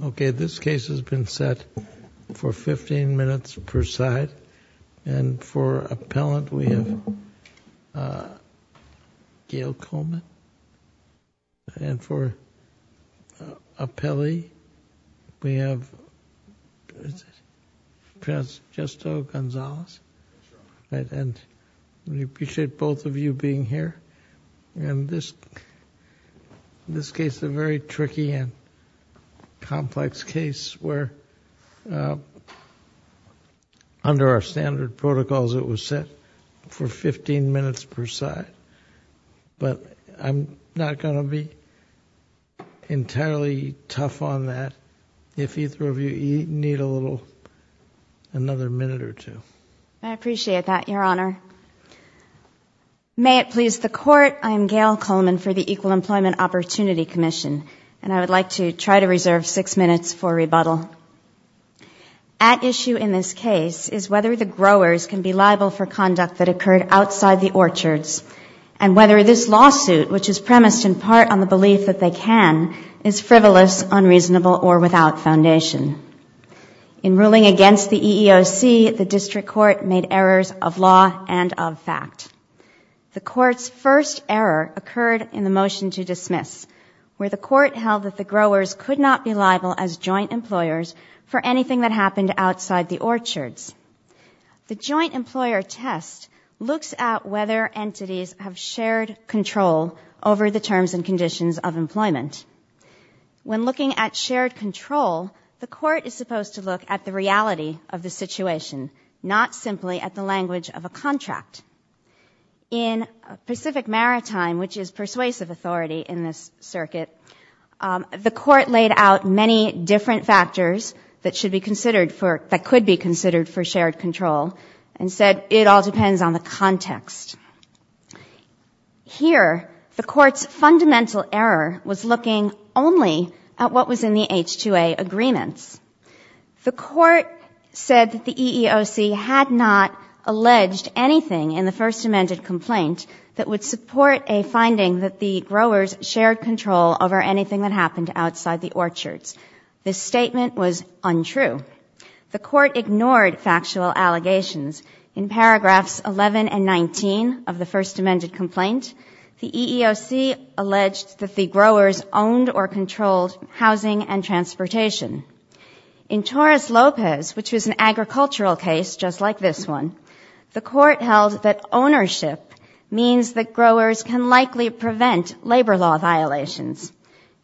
Okay, this case has been set for 15 minutes per side. And for appellant, we have Gail Coleman. And for appellee, we have Transgesto Gonzalez. And we appreciate both of you being here. And this case is a very tricky and complex case where under our standard protocols, it was set for 15 minutes per side. But I'm not going to be entirely tough on that. If either of you need a little, another minute or two. I appreciate that, Your Honor. May it please the Court, I am Gail Coleman for the Equal Employment Opportunity Commission. And I would like to try to reserve six minutes for rebuttal. At issue in this case is whether the growers can be liable for conduct that occurred outside the orchards. And whether this lawsuit, which is premised in part on the belief that they can, is frivolous, unreasonable, or without foundation. In ruling against the EEOC, the District Court made errors of law and of fact. The Court's first error occurred in the motion to dismiss, where the Court held that the growers could not be liable as joint employers for anything that happened outside the orchards. The joint employer test looks at whether entities have shared control over the terms and conditions of employment. When looking at shared control, the Court is supposed to look at the reality of the situation, not simply at the language of a contract. In Pacific Maritime, which is persuasive authority in this circuit, the Court laid out many different factors that should be considered for, that could be considered for shared control, and said it all depends on the context. Here the Court's fundamental error was looking only at what was in the H2A agreements. The Court said that the EEOC had not alleged anything in the First Amendment complaint that would support a finding that the growers shared control over anything that happened outside the orchards. This statement was untrue. The Court ignored factual allegations. In paragraphs 11 and 19 of the First Amendment complaint, the EEOC alleged that the growers owned or controlled housing and transportation. In Torres Lopez, which was an agricultural case just like this one, the Court held that ownership means that growers can likely prevent labor law violations.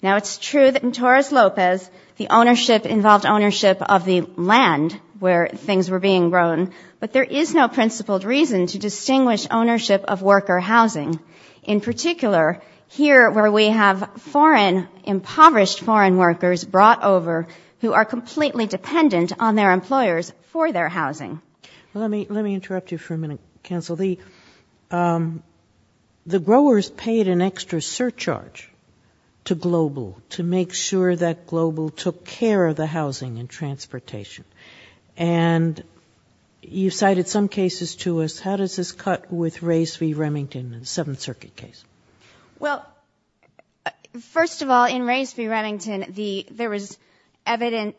Now, it's true that in Torres Lopez the ownership involved ownership of the land where things were being grown, but there is no principled reason to distinguish ownership of worker housing. In particular, here where we have foreign, impoverished foreign workers brought over who are completely dependent on their employers for their housing. Let me interrupt you for a minute, Counsel. The growers paid an extra surcharge to Global to make sure that Global took care of the housing and transportation. And you cited some cases to us. How does this cut with Rase v. Remington, the Seventh Circuit case? Well, first of all, in Rase v. Remington, there was evidence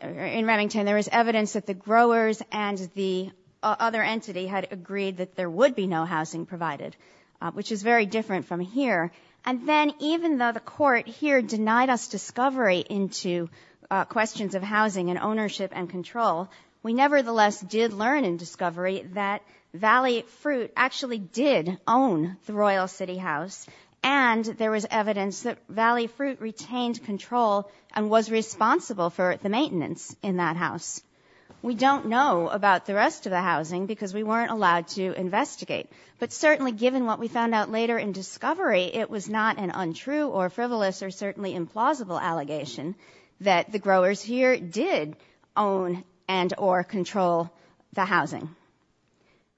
that the growers and the other entity had agreed that there would be no housing provided, which is very different from here. And then, even though the Court here denied us discovery into questions of housing and ownership and control, we nevertheless did learn in discovery that Valley Fruit actually did own the Royal City House, and there was evidence that Valley Fruit retained control and was responsible for the maintenance in that house. We don't know about the rest of the housing because we weren't allowed to investigate. But certainly, given what we found out later in discovery, it was not an untrue or frivolous or certainly implausible allegation that the growers here did own and or control the housing.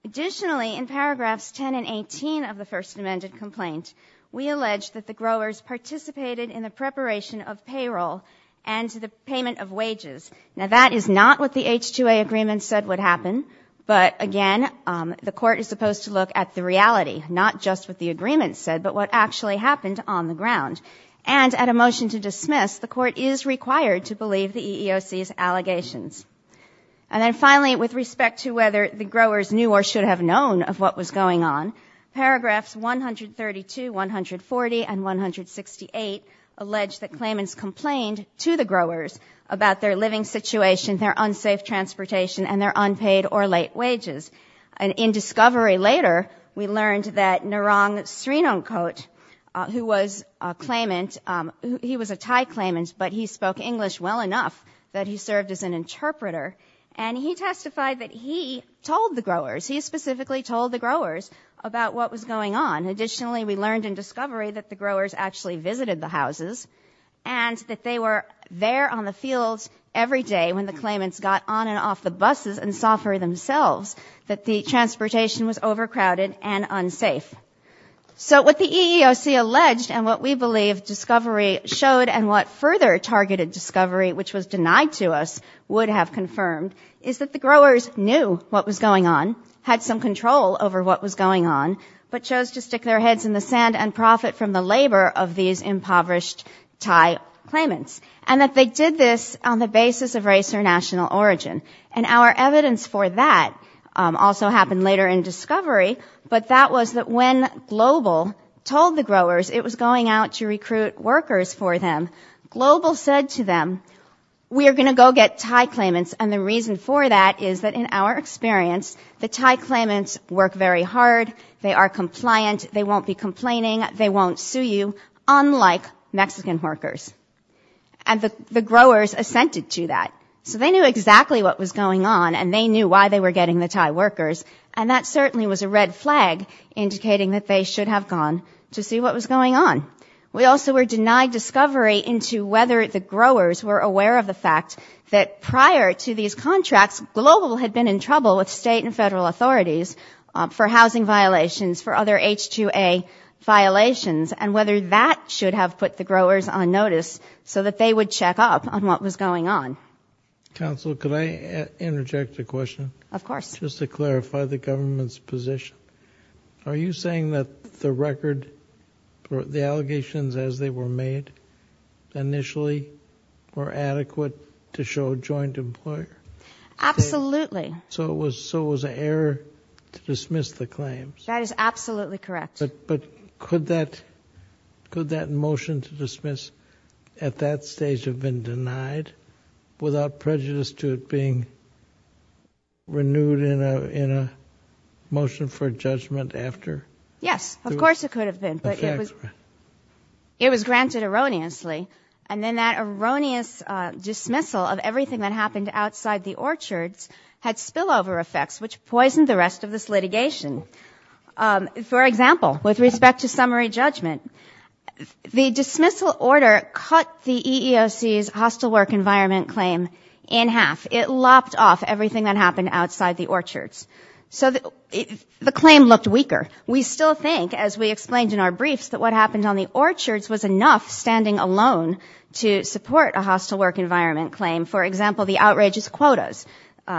Additionally, in paragraphs 10 and 18 of the First Amendment complaint, we allege that the growers participated in the preparation of payroll and the payment of wages. Now, that is not what the H-2A agreement said would happen. But again, the Court is supposed to look at the reality, not just what the agreement said, but what actually happened on the ground. And at a motion to dismiss, the Court is required to believe the EEOC's allegations. And then finally, with respect to whether the growers knew or should have known of what was going on, paragraphs 132, 140 and 168 allege that claimants complained to the growers about their living situation, their unsafe transportation and their unpaid or late wages. In discovery later, we learned that Narong Srinongkot, who was a Thai claimant, but he spoke English well enough that he served as an interpreter, and he testified that he told the growers. He specifically told the growers about what was going on. Additionally, we learned in discovery that the growers actually visited the houses and that they were there on the fields every day when the claimants got on and off the buses and saw for themselves that the transportation was overcrowded and unsafe. So what the EEOC alleged and what we believe discovery showed and what further targeted discovery, which was denied to us, would have confirmed is that the growers knew what was going on, had some control over what was going on, but chose to stick their heads in the ground. And they did this on the basis of race or national origin. And our evidence for that also happened later in discovery, but that was that when Global told the growers it was going out to recruit workers for them, Global said to them, we are going to go get Thai claimants and the reason for that is that in our experience, the Thai claimants work very hard, they are compliant, they won't be complaining, they won't sue you, unlike Mexican workers. And the growers assented to that. So they knew exactly what was going on and they knew why they were getting the Thai workers and that certainly was a red flag indicating that they should have gone to see what was going on. We also were denied discovery into whether the growers were aware of the fact that prior to these contracts, Global had been in trouble with state and federal authorities for housing violations, for other H-2A violations, and whether that should have put the growers on notice so that they would check up on what was going on. Counsel, could I interject a question? Of course. Just to clarify the government's position. Are you saying that the record, the allegations as they were made, initially were adequate to show a joint employer? Absolutely. So it was an error to dismiss the claims? That is absolutely correct. But could that motion to dismiss at that stage have been denied without prejudice to it being renewed in a motion for judgment after? Yes, of course it could have been. But it was granted erroneously. And then that erroneous dismissal of everything that happened outside the orchards had spillover effects which poisoned the rest of this litigation. For example, with respect to summary judgment, the dismissal order cut the EEOC's hostile work environment claim in half. It lopped off everything that happened outside the orchards. So the claim looked weaker. We still think, as we explained in our briefs, that what happened on the orchards was enough standing alone to support a hostile work environment claim. For example, the outrageous quotas.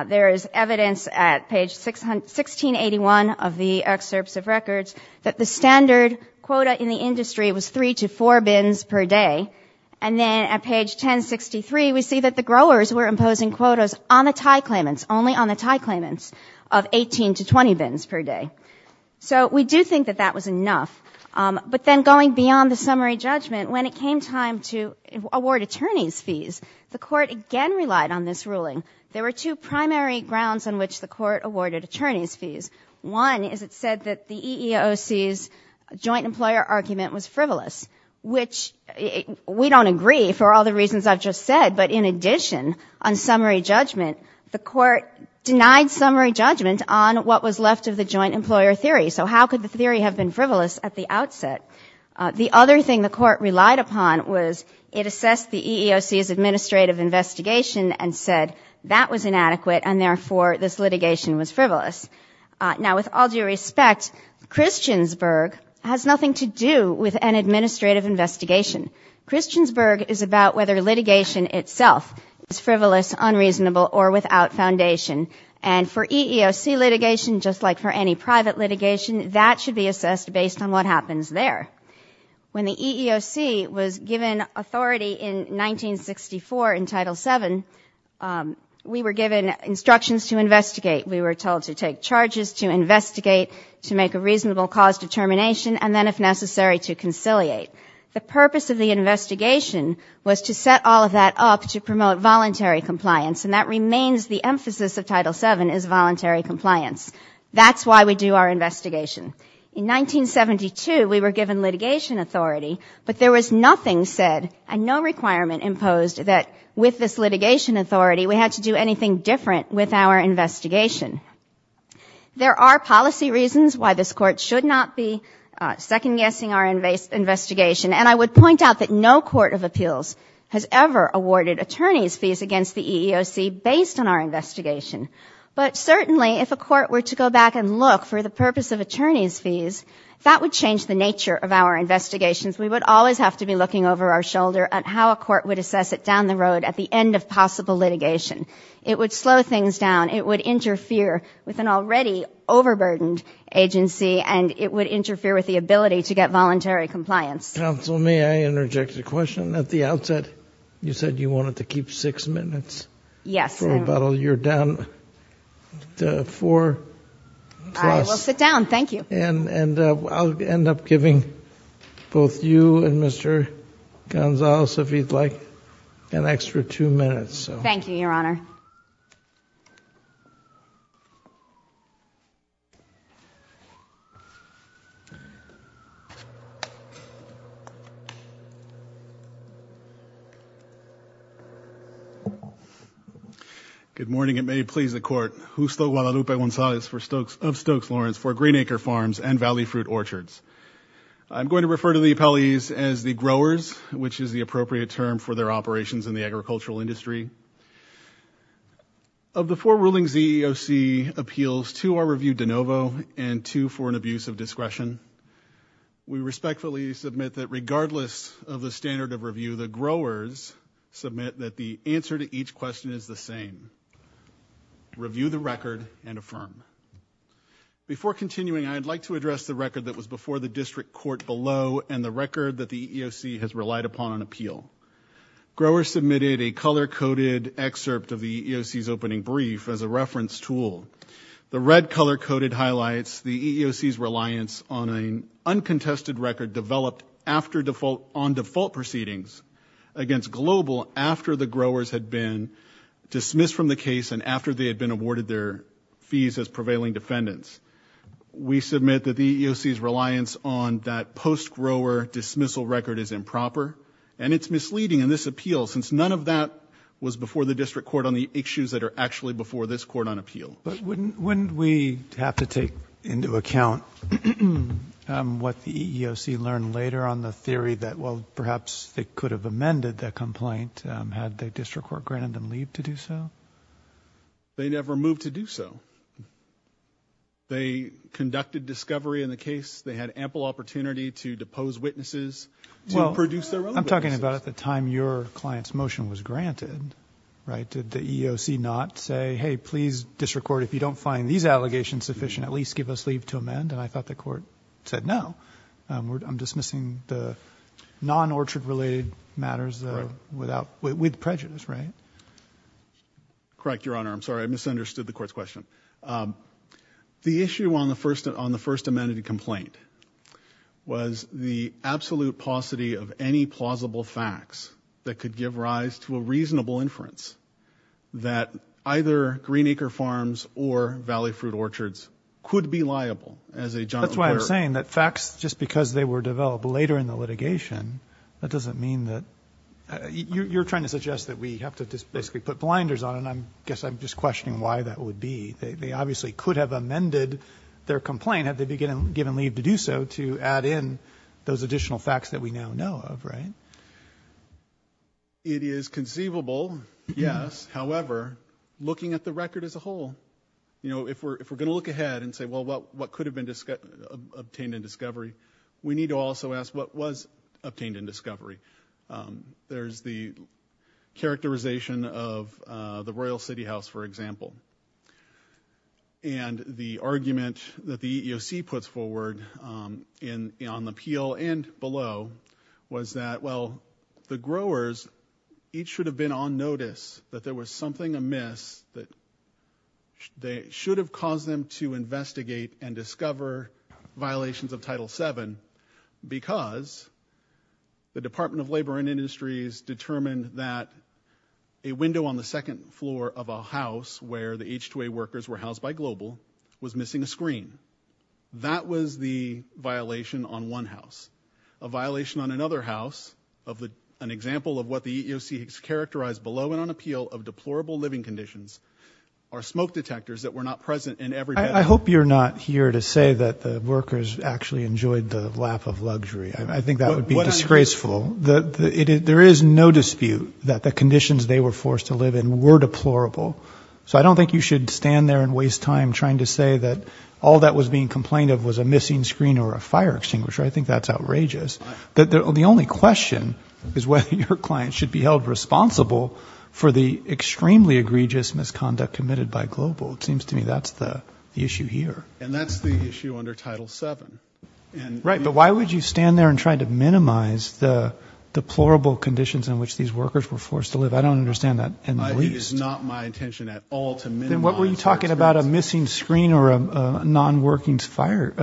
There is evidence at page 1681 of the excerpts of records that the standard quota in the industry was three to four bins per day. And then at page 1063, we see that the growers were imposing quotas on the tie claimants, only on the tie claimants, of 18 to 20 bins per day. So we do think that that was enough. But then going beyond the summary judgment, when it came time to award attorneys' fees, the Court again relied on this ruling. There were two primary grounds on which the Court awarded attorneys' fees. One is it said that the EEOC's joint employer argument was frivolous, which we don't agree for all the reasons I've just said. But in addition, on summary judgment, the Court denied summary judgment on what was left of the joint employer theory. So how could the theory have been frivolous at the outset? The other thing the Court relied upon was it assessed the EEOC's administrative investigation and said that was inadequate, and therefore this litigation was frivolous. Now, with all due respect, Christiansburg has nothing to do with an administrative investigation. Christiansburg is about whether litigation itself is frivolous, unreasonable, or without foundation. And for EEOC litigation, just like for any private litigation, that should be assessed based on what happens there. When the EEOC was given authority in 1964 in Title VII, we were given instructions to investigate. We were told to take charges, to investigate, to make a reasonable cause determination, and then, if necessary, to conciliate. The purpose of the investigation was to set all of that up to promote voluntary compliance. And that is why we do our investigation. In 1972, we were given litigation authority, but there was nothing said and no requirement imposed that, with this litigation authority, we had to do anything different with our investigation. There are policy reasons why this Court should not be second-guessing our investigation, and I would point out that no court of appeals has ever awarded attorneys' fees against the Additionally, if a court were to go back and look for the purpose of attorneys' fees, that would change the nature of our investigations. We would always have to be looking over our shoulder at how a court would assess it down the road at the end of possible litigation. It would slow things down. It would interfere with an already overburdened agency, and it would interfere with the ability to get voluntary compliance. Counsel, may I interject a question? At the outset, you said you wanted to keep six minutes for about a year down the road. I will sit down. Thank you. And I'll end up giving both you and Mr. Gonzalez, if you'd like, an extra two minutes. Thank you, Your Honor. Good morning, and may it please the Court. Justo Guadalupe Gonzalez of Stokes Lawrence for Green Acre Farms and Valley Fruit Orchards. I'm going to refer to the appellees as the growers, which is the appropriate term for their operations in the agricultural industry. Of the four rulings the EEOC appeals, two are reviewed de novo and two for an abuse of discretion. We respectfully submit that regardless of the standard of review, the growers submit that the answer to each question is the same. Review the record and affirm. Before continuing, I'd like to address the record that was before the district court below and the record that the EEOC has relied upon on appeal. Growers submitted a color-coded excerpt of the EEOC's opening brief as a reference tool. The red color-coded highlights the EEOC's reliance on an uncontested record developed after default on default proceedings against Global after the growers had been dismissed from the case and after they had been awarded their fees as prevailing defendants. We submit that the EEOC's reliance on that post-grower dismissal record is improper and it's misleading in this appeal since none of that was before the district court on the issues that are actually before this court on appeal. But wouldn't we have to take into account what the EEOC learned later on the theory that well, perhaps they could have amended the complaint had the district court granted them leave to do so? They never moved to do so. They conducted discovery in the case. They had ample opportunity to depose witnesses, to produce their own witnesses. Well, I'm talking about at the time your client's motion was granted, right, did the EEOC not say, hey, please, district court, if you don't find these allegations sufficient, at least give us leave to amend? And I thought the court said, no, I'm dismissing the non-orchard-related matters without, with prejudice, right? Correct, Your Honor. I'm sorry. I misunderstood the court's question. The issue on the first, on the first amended complaint was the absolute paucity of any plausible facts that could give rise to a reasonable inference that either green acre farms or valley fruit orchards could be liable as a John O'Leary. That's why I'm saying that facts, just because they were developed later in the litigation, that doesn't mean that, you're trying to suggest that we have to just basically put blinders on. And I guess I'm just questioning why that would be. They obviously could have amended their complaint had they been given leave to do so, to add in those additional facts that we now know of, right? It is conceivable, yes, however, looking at the record as a whole, you know, if we're going to look ahead and say, well, what could have been obtained in discovery? We need to also ask what was obtained in discovery? There's the characterization of the Royal City House, for example. And the argument that the EEOC puts forward in, on the appeal and below was that, well, the growers each should have been on notice that there was something amiss that they should have caused them to investigate and discover violations of Title VII because the Department of Labor and Industries determined that a window on the second floor of a house where the H-2A workers were housed by Global was missing a screen. That was the violation on one house. A violation on another house of the, an example of what the EEOC has characterized below and appeal of deplorable living conditions are smoke detectors that were not present in every bedroom. I hope you're not here to say that the workers actually enjoyed the lap of luxury. I think that would be disgraceful. There is no dispute that the conditions they were forced to live in were deplorable. So I don't think you should stand there and waste time trying to say that all that was being complained of was a missing screen or a fire extinguisher. I think that's outrageous. The only question is whether your clients should be held responsible for the extremely egregious misconduct committed by Global. It seems to me that's the issue here. And that's the issue under Title VII. Right, but why would you stand there and try to minimize the deplorable conditions in which these workers were forced to live? I don't understand that in the least. I think it's not my intention at all to minimize that. Then what were you talking about, a missing screen or a non-working smoke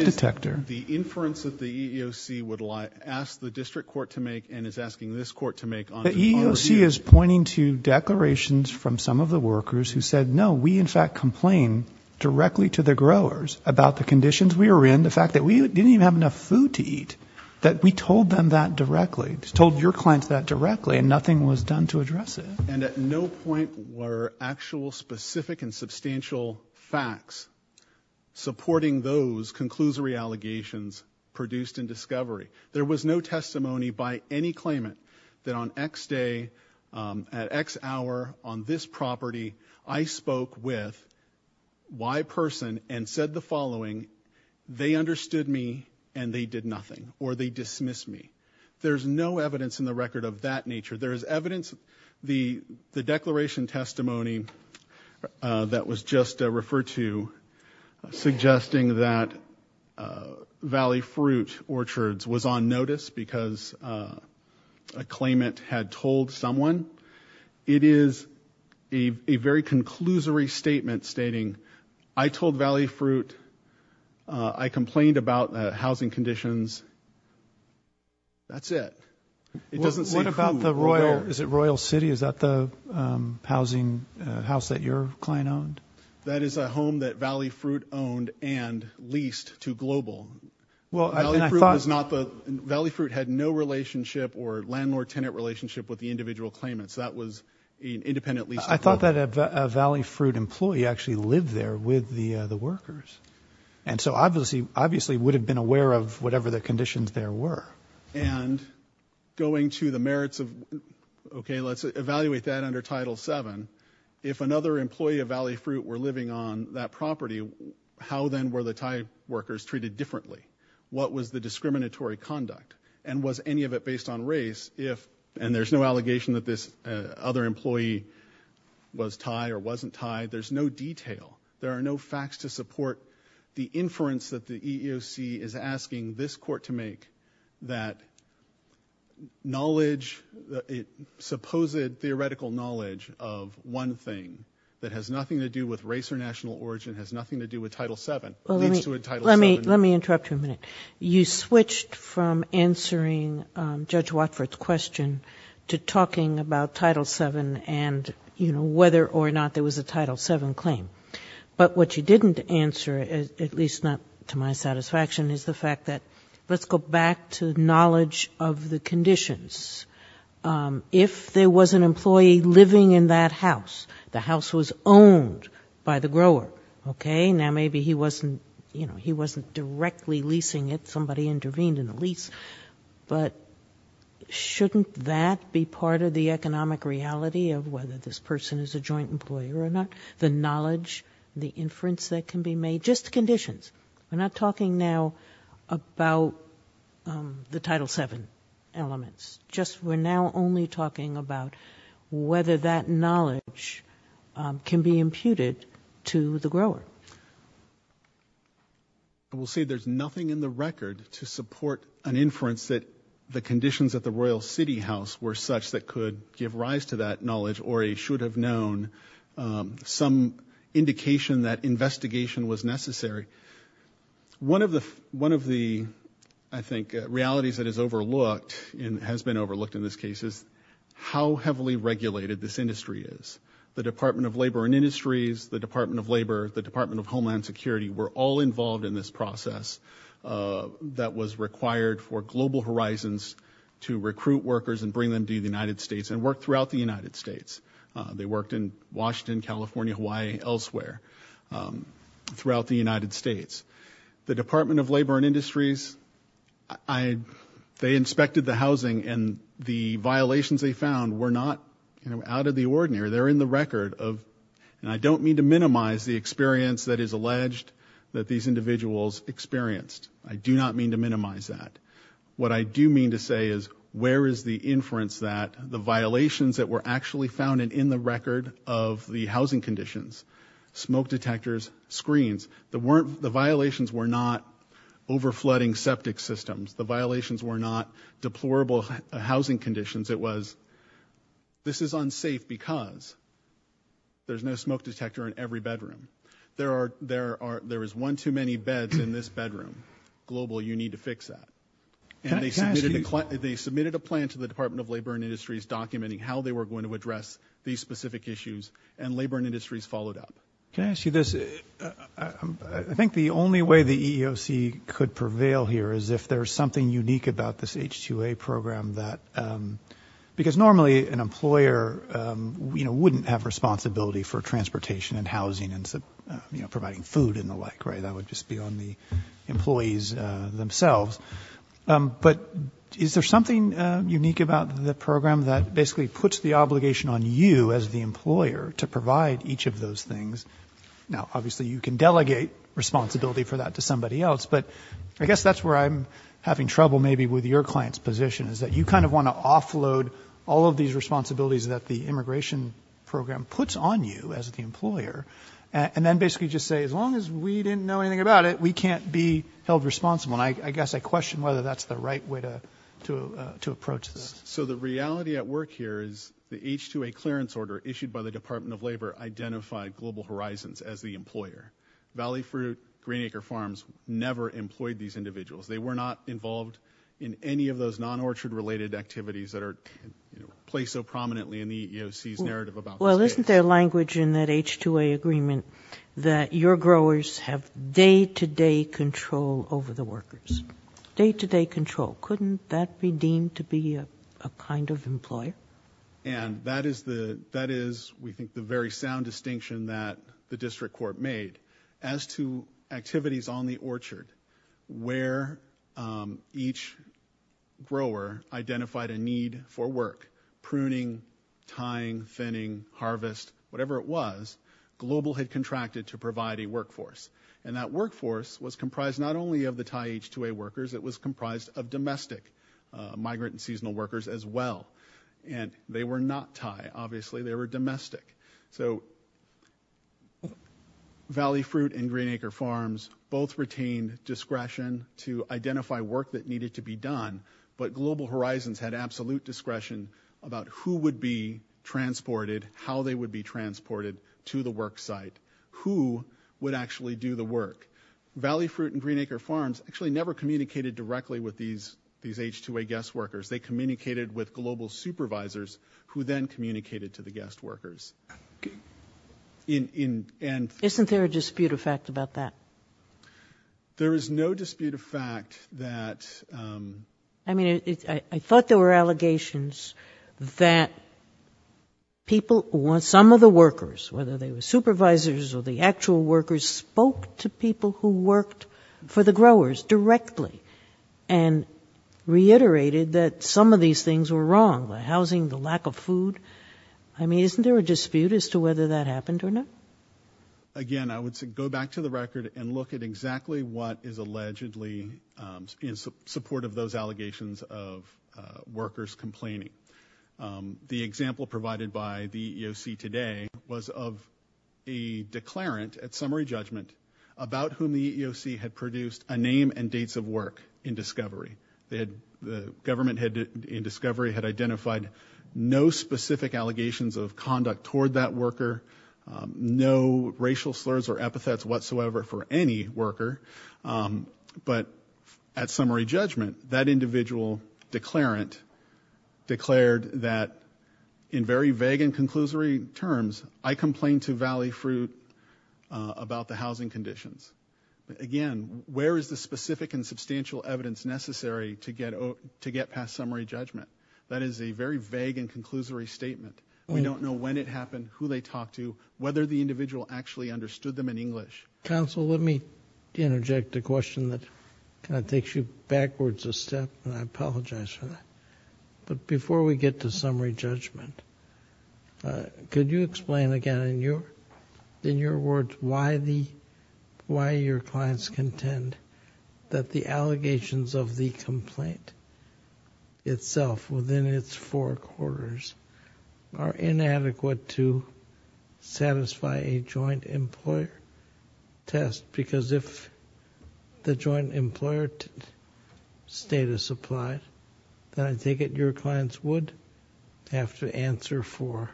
detector? The inference that the EEOC would ask the district court to make and is asking this court to make on the overheating. The EEOC is pointing to declarations from some of the workers who said, no, we in fact complain directly to the growers about the conditions we were in, the fact that we didn't even have enough food to eat, that we told them that directly, told your clients that directly and nothing was done to address it. And at no point were actual specific and substantial facts supporting those conclusory allegations produced in discovery. There was no testimony by any claimant that on X day, at X hour on this property, I spoke with Y person and said the following, they understood me and they did nothing or they dismissed me. There's no evidence in the record of that nature. There is evidence, the declaration testimony that was just referred to suggesting that Valley Fruit Orchards was on notice because a claimant had told someone, it is a very conclusory statement stating, I told Valley Fruit, I complained about housing conditions. That's it. It doesn't say who. What about the Royal, is it Royal City? Is that the housing house that your client owned? That is a home that Valley Fruit owned and leased to Global. Valley Fruit had no relationship or landlord tenant relationship with the individual claimants. That was an independent lease. I thought that a Valley Fruit employee actually lived there with the workers. And so obviously would have been aware of whatever the conditions there were. And going to the merits of, okay, let's evaluate that under Title VII. If another employee of Valley Fruit were living on that property, how then were the Thai workers treated differently? What was the discriminatory conduct and was any of it based on race if, and there's no allegation that this other employee was Thai or wasn't Thai. There's no detail. There are no facts to support the inference that the EEOC is asking this court to make that knowledge, supposed theoretical knowledge of one thing that has nothing to do with race or national origin, has nothing to do with Title VII, leads to a Title VII. Let me interrupt you a minute. You switched from answering Judge Watford's question to talking about Title VII and whether or not there was a Title VII claim. But what you didn't answer, at least not to my satisfaction, is the fact that, let's go back to knowledge of the conditions. If there was an employee living in that house, the house was owned by the grower, okay? Now maybe he wasn't, you know, he wasn't directly leasing it. Somebody intervened in the lease. But shouldn't that be part of the economic reality of whether this person is a joint employer or not, the knowledge, the inference that can be made, just conditions. We're not talking now about the Title VII elements, just we're now only talking about whether that knowledge can be imputed to the grower. I will say there's nothing in the record to support an inference that the conditions at knowledge or a should have known, some indication that investigation was necessary. One of the, I think, realities that is overlooked and has been overlooked in this case is how heavily regulated this industry is. The Department of Labor and Industries, the Department of Labor, the Department of Homeland Security were all involved in this process that was required for Global Horizons to recruit workers and bring them to the United States and work throughout the United States. They worked in Washington, California, Hawaii, elsewhere throughout the United States. The Department of Labor and Industries, I, they inspected the housing and the violations they found were not, you know, out of the ordinary. They're in the record of, and I don't mean to minimize the experience that is alleged that these individuals experienced. I do not mean to minimize that. What I do mean to say is where is the inference that the violations that were actually found in the record of the housing conditions, smoke detectors, screens, the violations were not over flooding septic systems. The violations were not deplorable housing conditions. It was, this is unsafe because there's no smoke detector in every bedroom. There are, there are, there is one too many beds in this bedroom, global, you need to fix that. And they submitted a, they submitted a plan to the Department of Labor and Industries documenting how they were going to address these specific issues and Labor and Industries followed up. Can I ask you this, I think the only way the EEOC could prevail here is if there's something unique about this H2A program that, because normally an employer, you know, wouldn't have a responsibility for transportation and housing and, you know, providing food and the like, right? That would just be on the employees themselves. But is there something unique about the program that basically puts the obligation on you as the employer to provide each of those things? Now obviously you can delegate responsibility for that to somebody else, but I guess that's where I'm having trouble maybe with your client's position is that you kind of want to offload all of these responsibilities that the immigration program puts on you as the employer. And then basically just say, as long as we didn't know anything about it, we can't be held responsible. And I guess I question whether that's the right way to, to, to approach this. So the reality at work here is the H2A clearance order issued by the Department of Labor identified global horizons as the employer, Valley Fruit, Green Acre Farms, never employed these individuals. They were not involved in any of those non-orchard related activities that are placed so prominently in the EEOC's narrative about this case. Well, isn't there language in that H2A agreement that your growers have day-to-day control over the workers, day-to-day control? Couldn't that be deemed to be a kind of employer? And that is the, that is, we think the very sound distinction that the district court made as to activities on the orchard where each grower identified a need for work, pruning, tying, thinning, harvest, whatever it was, global had contracted to provide a workforce. And that workforce was comprised not only of the Thai H2A workers, it was comprised of domestic migrant and seasonal workers as well. And they were not Thai, obviously, they were domestic. So Valley Fruit and Green Acre Farms both retained discretion to identify work that needed to be done, but Global Horizons had absolute discretion about who would be transported, how they would be transported to the work site, who would actually do the work. Valley Fruit and Green Acre Farms actually never communicated directly with these H2A guest workers. They communicated with global supervisors who then communicated to the guest workers. Isn't there a dispute of fact about that? There is no dispute of fact that, um, I mean, I thought there were allegations that people, some of the workers, whether they were supervisors or the actual workers, spoke to people who said that some of these things were wrong, the housing, the lack of food. I mean, isn't there a dispute as to whether that happened or not? Again, I would say go back to the record and look at exactly what is allegedly in support of those allegations of workers complaining. The example provided by the EEOC today was of a declarant at summary judgment about whom the EEOC had produced a name and dates of work in discovery. The government in discovery had identified no specific allegations of conduct toward that worker, no racial slurs or epithets whatsoever for any worker. But at summary judgment, that individual declarant declared that in very vague and conclusory terms, I complained to Valley Fruit about the housing conditions. Again, where is the specific and substantial evidence necessary to get past summary judgment? That is a very vague and conclusory statement. We don't know when it happened, who they talked to, whether the individual actually understood them in English. Counsel, let me interject a question that kind of takes you backwards a step and I apologize for that. But before we get to summary judgment, could you explain again in your words why your clients contend that the allegations of the complaint itself within its four quarters are inadequate to satisfy a joint employer test? Because if the joint employer status applied, then I take it your clients would have to answer for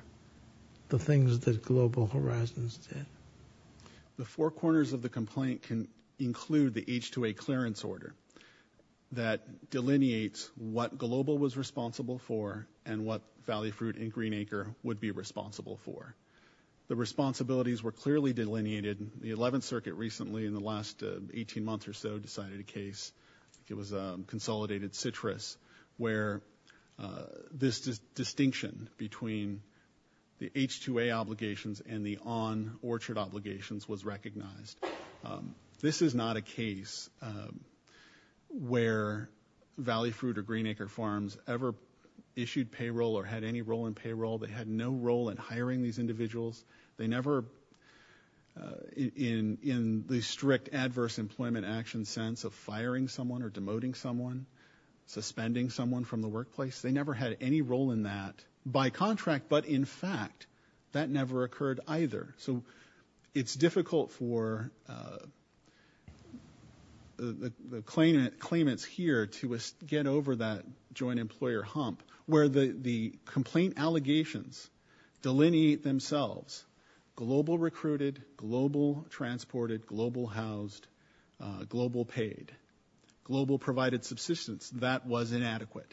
the things that Global Horizons did. The four corners of the complaint can include the H-2A clearance order that delineates what Global was responsible for and what Valley Fruit and Green Acre would be responsible for. The responsibilities were clearly delineated. The 11th Circuit recently in the last 18 months or so decided a case, it was Consolidated Citrus, where this distinction between the H-2A obligations and the on-orchard obligations was recognized. This is not a case where Valley Fruit or Green Acre Farms ever issued payroll or had any role in payroll. They had no role in hiring these individuals. They never in the strict adverse employment action sense of firing someone or demoting someone, suspending someone from the workplace, they never had any role in that by contract. But in fact, that never occurred either. So it's difficult for the claimants here to get over that joint employer hump where the Global recruited, Global transported, Global housed, Global paid, Global provided subsistence. That was inadequate.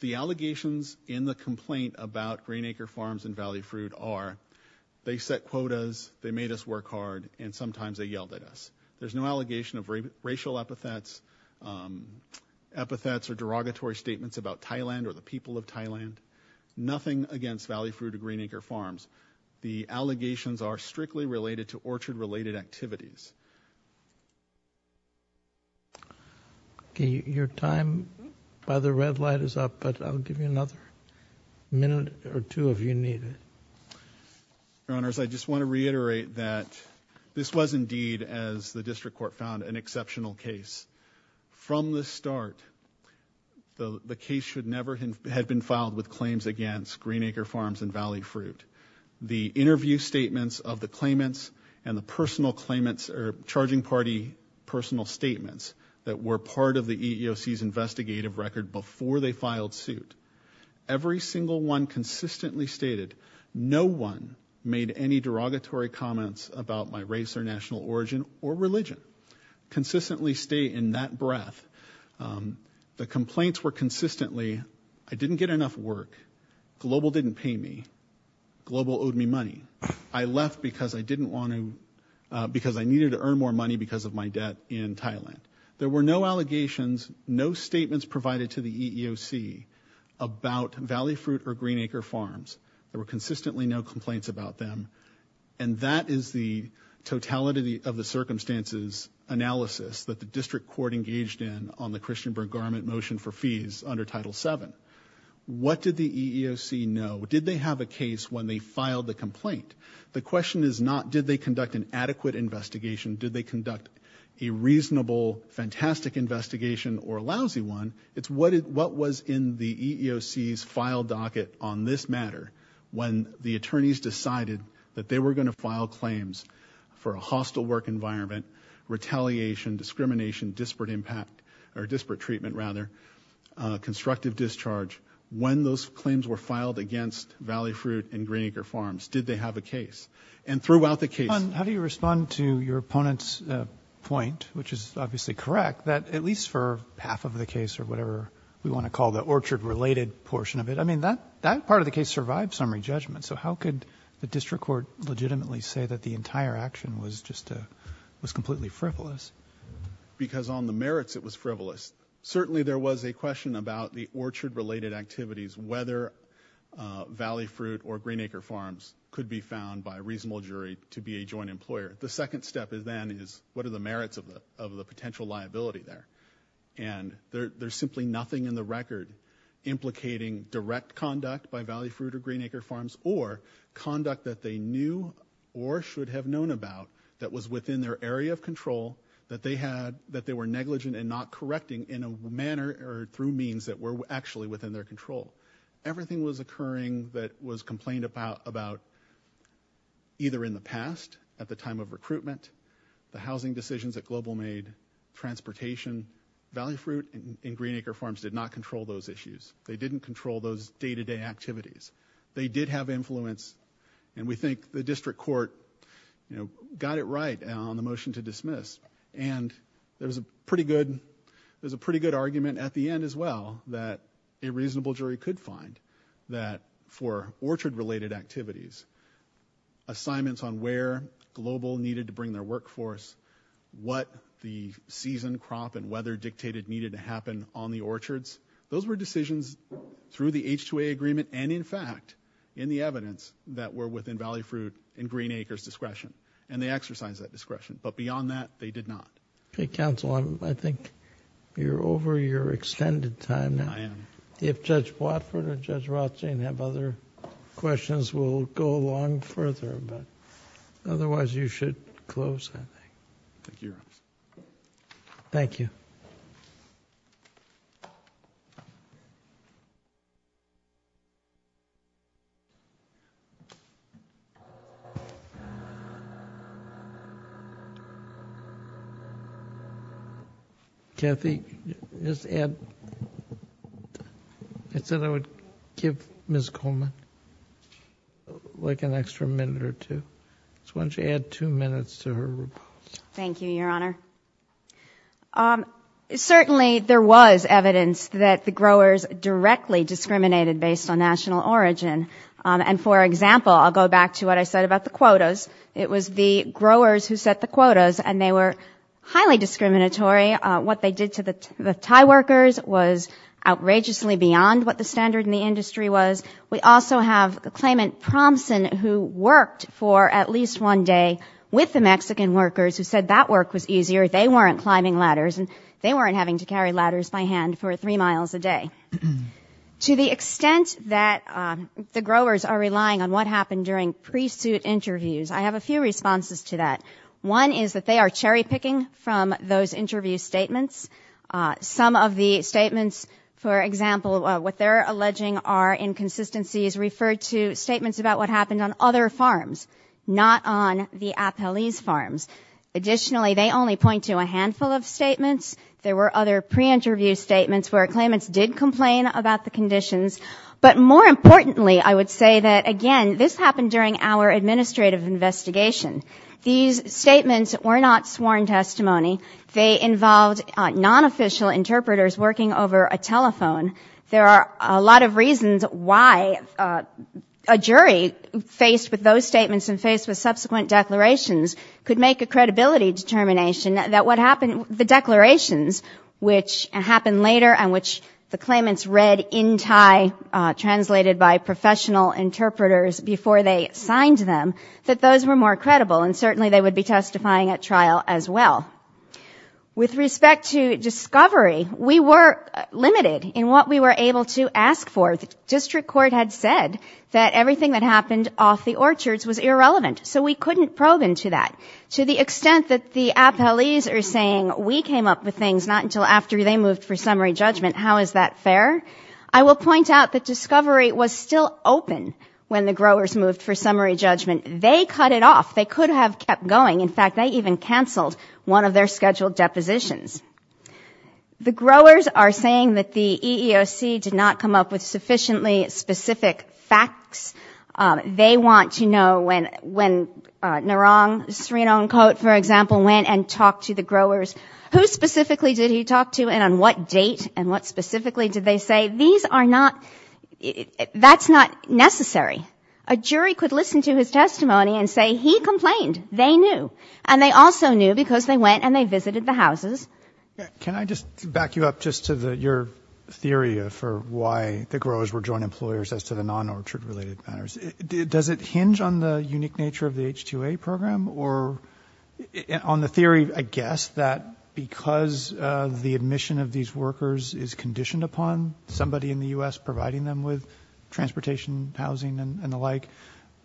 The allegations in the complaint about Green Acre Farms and Valley Fruit are they set quotas, they made us work hard, and sometimes they yelled at us. There's no allegation of racial epithets, epithets or derogatory statements about Thailand or the people of Thailand, nothing against Valley Fruit or Green Acre Farms. The allegations are strictly related to orchard-related activities. Your time by the red light is up, but I'll give you another minute or two if you need it. Your Honors, I just want to reiterate that this was indeed, as the district court found, an exceptional case. From the start, the case should never have been filed with claims against Green Acre Farms and Valley Fruit. The interview statements of the claimants and the personal claimants or charging party personal statements that were part of the EEOC's investigative record before they filed suit, every single one consistently stated, no one made any derogatory comments about my race or national origin or religion. Consistently state in that breath, the complaints were consistently, I didn't get enough work, Global didn't pay me, Global owed me money. I left because I didn't want to, because I needed to earn more money because of my debt in Thailand. There were no allegations, no statements provided to the EEOC about Valley Fruit or Green Acre Farms. There were consistently no complaints about them. And that is the totality of the circumstances analysis that the district court engaged in on the Christian Bergarment motion for fees under Title VII. What did the EEOC know? Did they have a case when they filed the complaint? The question is not, did they conduct an adequate investigation? Did they conduct a reasonable, fantastic investigation or a lousy one? It's what was in the EEOC's file docket on this matter when the attorneys decided that they were going to file claims for a hostile work environment, retaliation, discrimination, disparate impact, or disparate treatment rather, constructive discharge. When those claims were filed against Valley Fruit and Green Acre Farms, did they have a case? And throughout the case- How do you respond to your opponent's point, which is obviously correct, that at least for half of the case or whatever we want to call the orchard related portion of it, I mean, that part of the case survived summary judgment. So how could the district court legitimately say that the entire action was just a, was completely frivolous? Because on the merits it was frivolous. Certainly there was a question about the orchard related activities, whether Valley Fruit or Green Acre Farms could be found by a reasonable jury to be a joint employer. The second step then is, what are the merits of the potential liability there? And there's simply nothing in the record implicating direct conduct by Valley Fruit or Green Acre Farms or conduct that they knew or should have known about that was within their area of control that they had, that they were negligent and not correcting in a manner or through means that were actually within their control. Everything was occurring that was complained about either in the past, at the time of recruitment, the housing decisions that Global made, transportation, Valley Fruit and Green Acre Farms did not control those issues. They didn't control those day-to-day activities. They did have influence, and we think the district court got it right on the motion to dismiss, and there was a pretty good argument at the end as well that a reasonable jury could find that for orchard related activities, assignments on where Global needed to bring their workforce, what the season, crop and weather dictated needed to happen on the orchards, those were decisions through the H-2A agreement and in fact in the evidence that were within Valley Fruit and Green Acre's discretion, and they exercised that discretion. But beyond that, they did not. Okay, counsel, I think you're over your extended time now. I am. If Judge Watford or Judge Rothstein have other questions, we'll go along further, but otherwise you should close I think. Thank you, Your Honor. Thank you. Kathy, just add, I said I would give Ms. Coleman like an extra minute or two, so why don't you add two minutes to her report. Thank you, Your Honor. Certainly there was evidence that the growers directly discriminated based on national origin, and for example, I'll go back to what I said about the quotas. It was the growers who set the quotas, and they were highly discriminatory. What they did to the Thai workers was outrageously beyond what the standard in the industry was. We also have a claimant, Promson, who worked for at least one day with the Mexican workers who said that work was easier. They weren't climbing ladders, and they weren't having to carry ladders by hand for three miles a day. To the extent that the growers are relying on what happened during pre-suit interviews, I have a few responses to that. One is that they are cherry-picking from those interview statements. Some of the statements, for example, what they're alleging are inconsistencies referred to statements about what happened on other farms, not on the Apeliz farms. Additionally, they only point to a handful of statements. There were other pre-interview statements where claimants did complain about the conditions. But more importantly, I would say that, again, this happened during our administrative investigation. These statements were not sworn testimony. They involved non-official interpreters working over a telephone. There are a lot of reasons why a jury faced with those statements and faced with subsequent declarations could make a credibility determination that what happened, the declarations, which happened later and which the claimants read in Thai, translated by professional interpreters before they signed them, that those were more credible, and certainly they would be testifying at trial as well. With respect to discovery, we were limited in what we were able to ask for. The district court had said that everything that happened off the orchards was irrelevant, so we couldn't probe into that. To the extent that the Apeliz are saying we came up with things not until after they moved for summary judgment, how is that fair? I will point out that discovery was still open when the growers moved for summary judgment. They cut it off. They could have kept going. In fact, they even canceled one of their scheduled depositions. The growers are saying that the EEOC did not come up with sufficiently specific facts. They want to know when Narang Srinongkot, for example, went and talked to the growers. Who specifically did he talk to and on what date and what specifically did they say? These are not, that's not necessary. A jury could listen to his testimony and say he complained. They knew. And they also knew because they went and they visited the houses. Can I just back you up just to your theory for why the growers were joint employers as to the non-orchard related matters? Does it hinge on the unique nature of the H-2A program or on the theory, I guess, that because the admission of these workers is conditioned upon somebody in the U.S. providing them with transportation, housing, and the like,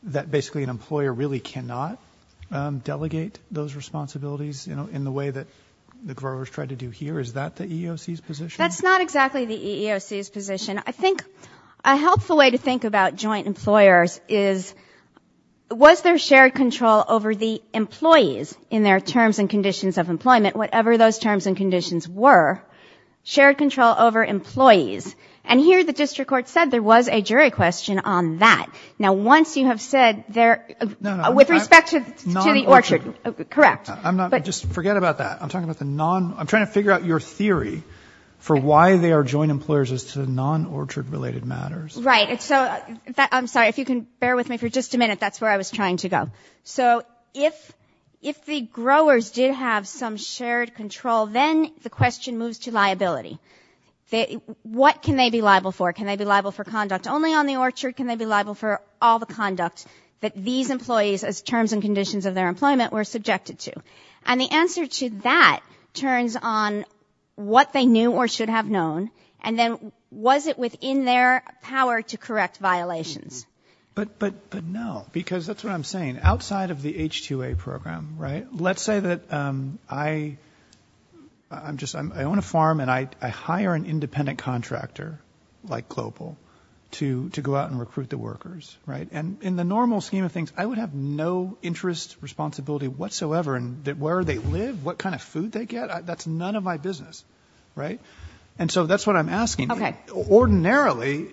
that basically an employer really cannot delegate those responsibilities in the way that the growers tried to do here? Is that the EEOC's position? That's not exactly the EEOC's position. I think a helpful way to think about joint employers is was there shared control over the employees in their terms and conditions of employment, whatever those terms and conditions were, shared control over employees? And here the district court said there was a jury question on that. Now once you have said there, with respect to the orchard, correct. I'm not. Just forget about that. I'm talking about the non. I'm trying to figure out your theory for why they are joint employers as to non-orchard related matters. Right. So I'm sorry. If you can bear with me for just a minute, that's where I was trying to go. So if the growers did have some shared control, then the question moves to liability. What can they be liable for? Can they be liable for conduct only on the orchard? Can they be liable for all the conduct that these employees, as terms and conditions of their employment, were subjected to? And the answer to that turns on what they knew or should have known, and then was it within their power to correct violations? But no. Because that's what I'm saying. Outside of the H-2A program, right? Let's say that I own a farm, and I hire an independent contractor, like Global, to go out and recruit the workers, right? And in the normal scheme of things, I would have no interest, responsibility whatsoever in where they live, what kind of food they get. That's none of my business, right? And so that's what I'm asking. Ordinarily,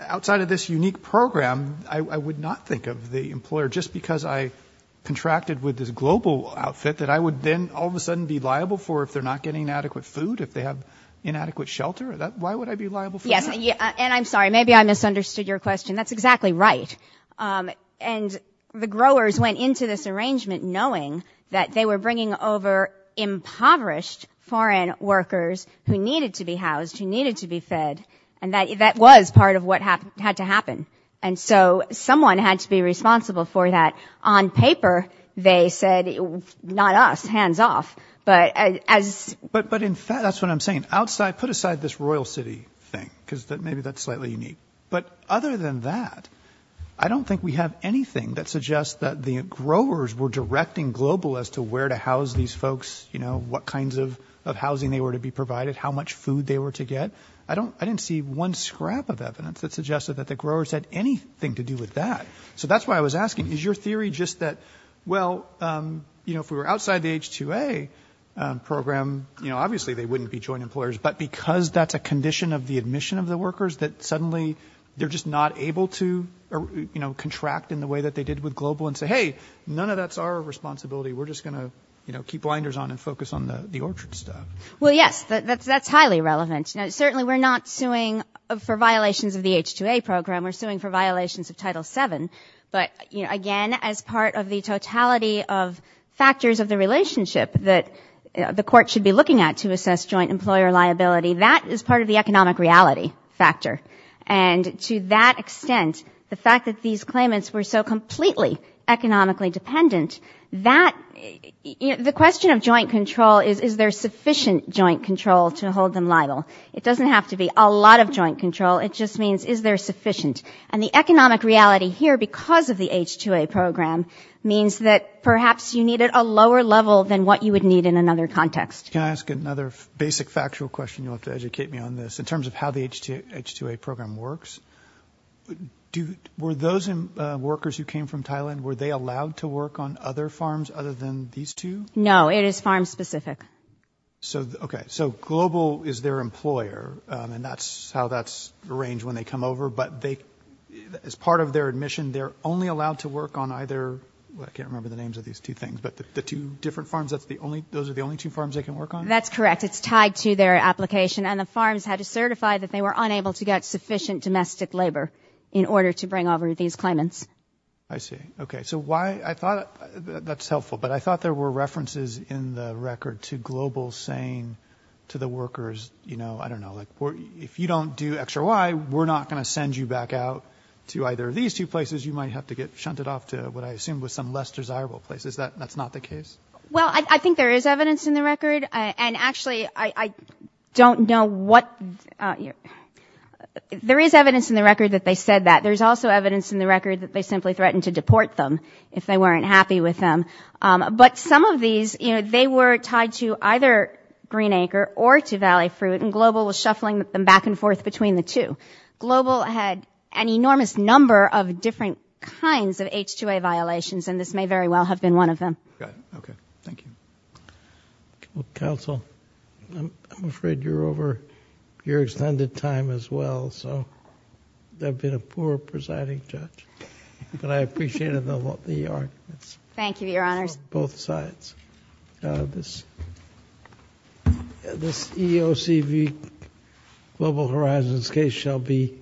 outside of this unique program, I would not think of the employer. Just because I contracted with this Global outfit, that I would then all of a sudden be liable for if they're not getting adequate food, if they have inadequate shelter? Why would I be liable for that? Yes. And I'm sorry. Maybe I misunderstood your question. That's exactly right. And the growers went into this arrangement knowing that they were bringing over impoverished foreign workers who needed to be housed, who needed to be fed. And that was part of what had to happen. And so someone had to be responsible for that. On paper, they said, not us, hands off. But as... But in fact, that's what I'm saying. Put aside this Royal City thing, because maybe that's slightly unique. But other than that, I don't think we have anything that suggests that the growers were directing Global as to where to house these folks, what kinds of housing they were to be provided, how much food they were to get. I don't... I didn't see one scrap of evidence that suggested that the growers had anything to do with that. So that's why I was asking, is your theory just that, well, you know, if we were outside the H-2A program, you know, obviously they wouldn't be joint employers. But because that's a condition of the admission of the workers, that suddenly they're just not able to, you know, contract in the way that they did with Global and say, hey, none of that's our responsibility. We're just going to, you know, keep blinders on and focus on the orchard stuff. Well, yes. That's highly relevant. Now, certainly we're not suing for violations of the H-2A program, we're suing for violations of Title VII. But, you know, again, as part of the totality of factors of the relationship that the court should be looking at to assess joint employer liability, that is part of the economic reality factor. And to that extent, the fact that these claimants were so completely economically dependent, that, you know, the question of joint control is, is there sufficient joint control to hold them liable? It doesn't have to be a lot of joint control. It just means, is there sufficient? And the economic reality here, because of the H-2A program, means that perhaps you need it a lower level than what you would need in another context. Can I ask another basic factual question, you'll have to educate me on this, in terms of how the H-2A program works? Do, were those workers who came from Thailand, were they allowed to work on other farms other than these two? No, it is farm-specific. So, okay, so Global is their employer, and that's how that's arranged when they come over, but they, as part of their admission, they're only allowed to work on either, well, I can't remember the names of these two things, but the two different farms, that's the only, those are the only two farms they can work on? That's correct. It's tied to their application, and the farms had to certify that they were unable to get sufficient domestic labor in order to bring over these claimants. I see. Okay. So why, I thought, that's helpful, but I thought there were references in the record to Global saying to the workers, you know, I don't know, like, if you don't do X or Y, we're not going to send you back out to either of these two places, you might have to get shunted off to what I assume was some less desirable places. That's not the case? Well, I think there is evidence in the record, and actually, I don't know what, there is evidence in the record that they said that. There's also evidence in the record that they simply threatened to deport them if they weren't happy with them, but some of these, you know, they were tied to either Green Acre or to Valley Fruit, and Global was shuffling them back and forth between the two. Global had an enormous number of different kinds of H-2A violations, and this may very well have been one of them. Got it. Okay. Thank you. Counsel, I'm afraid you're over your extended time as well, so I've been a poor presiding judge, but I appreciated the arguments. Thank you, Your Honors. Both sides. This EOCV Global Horizons case shall be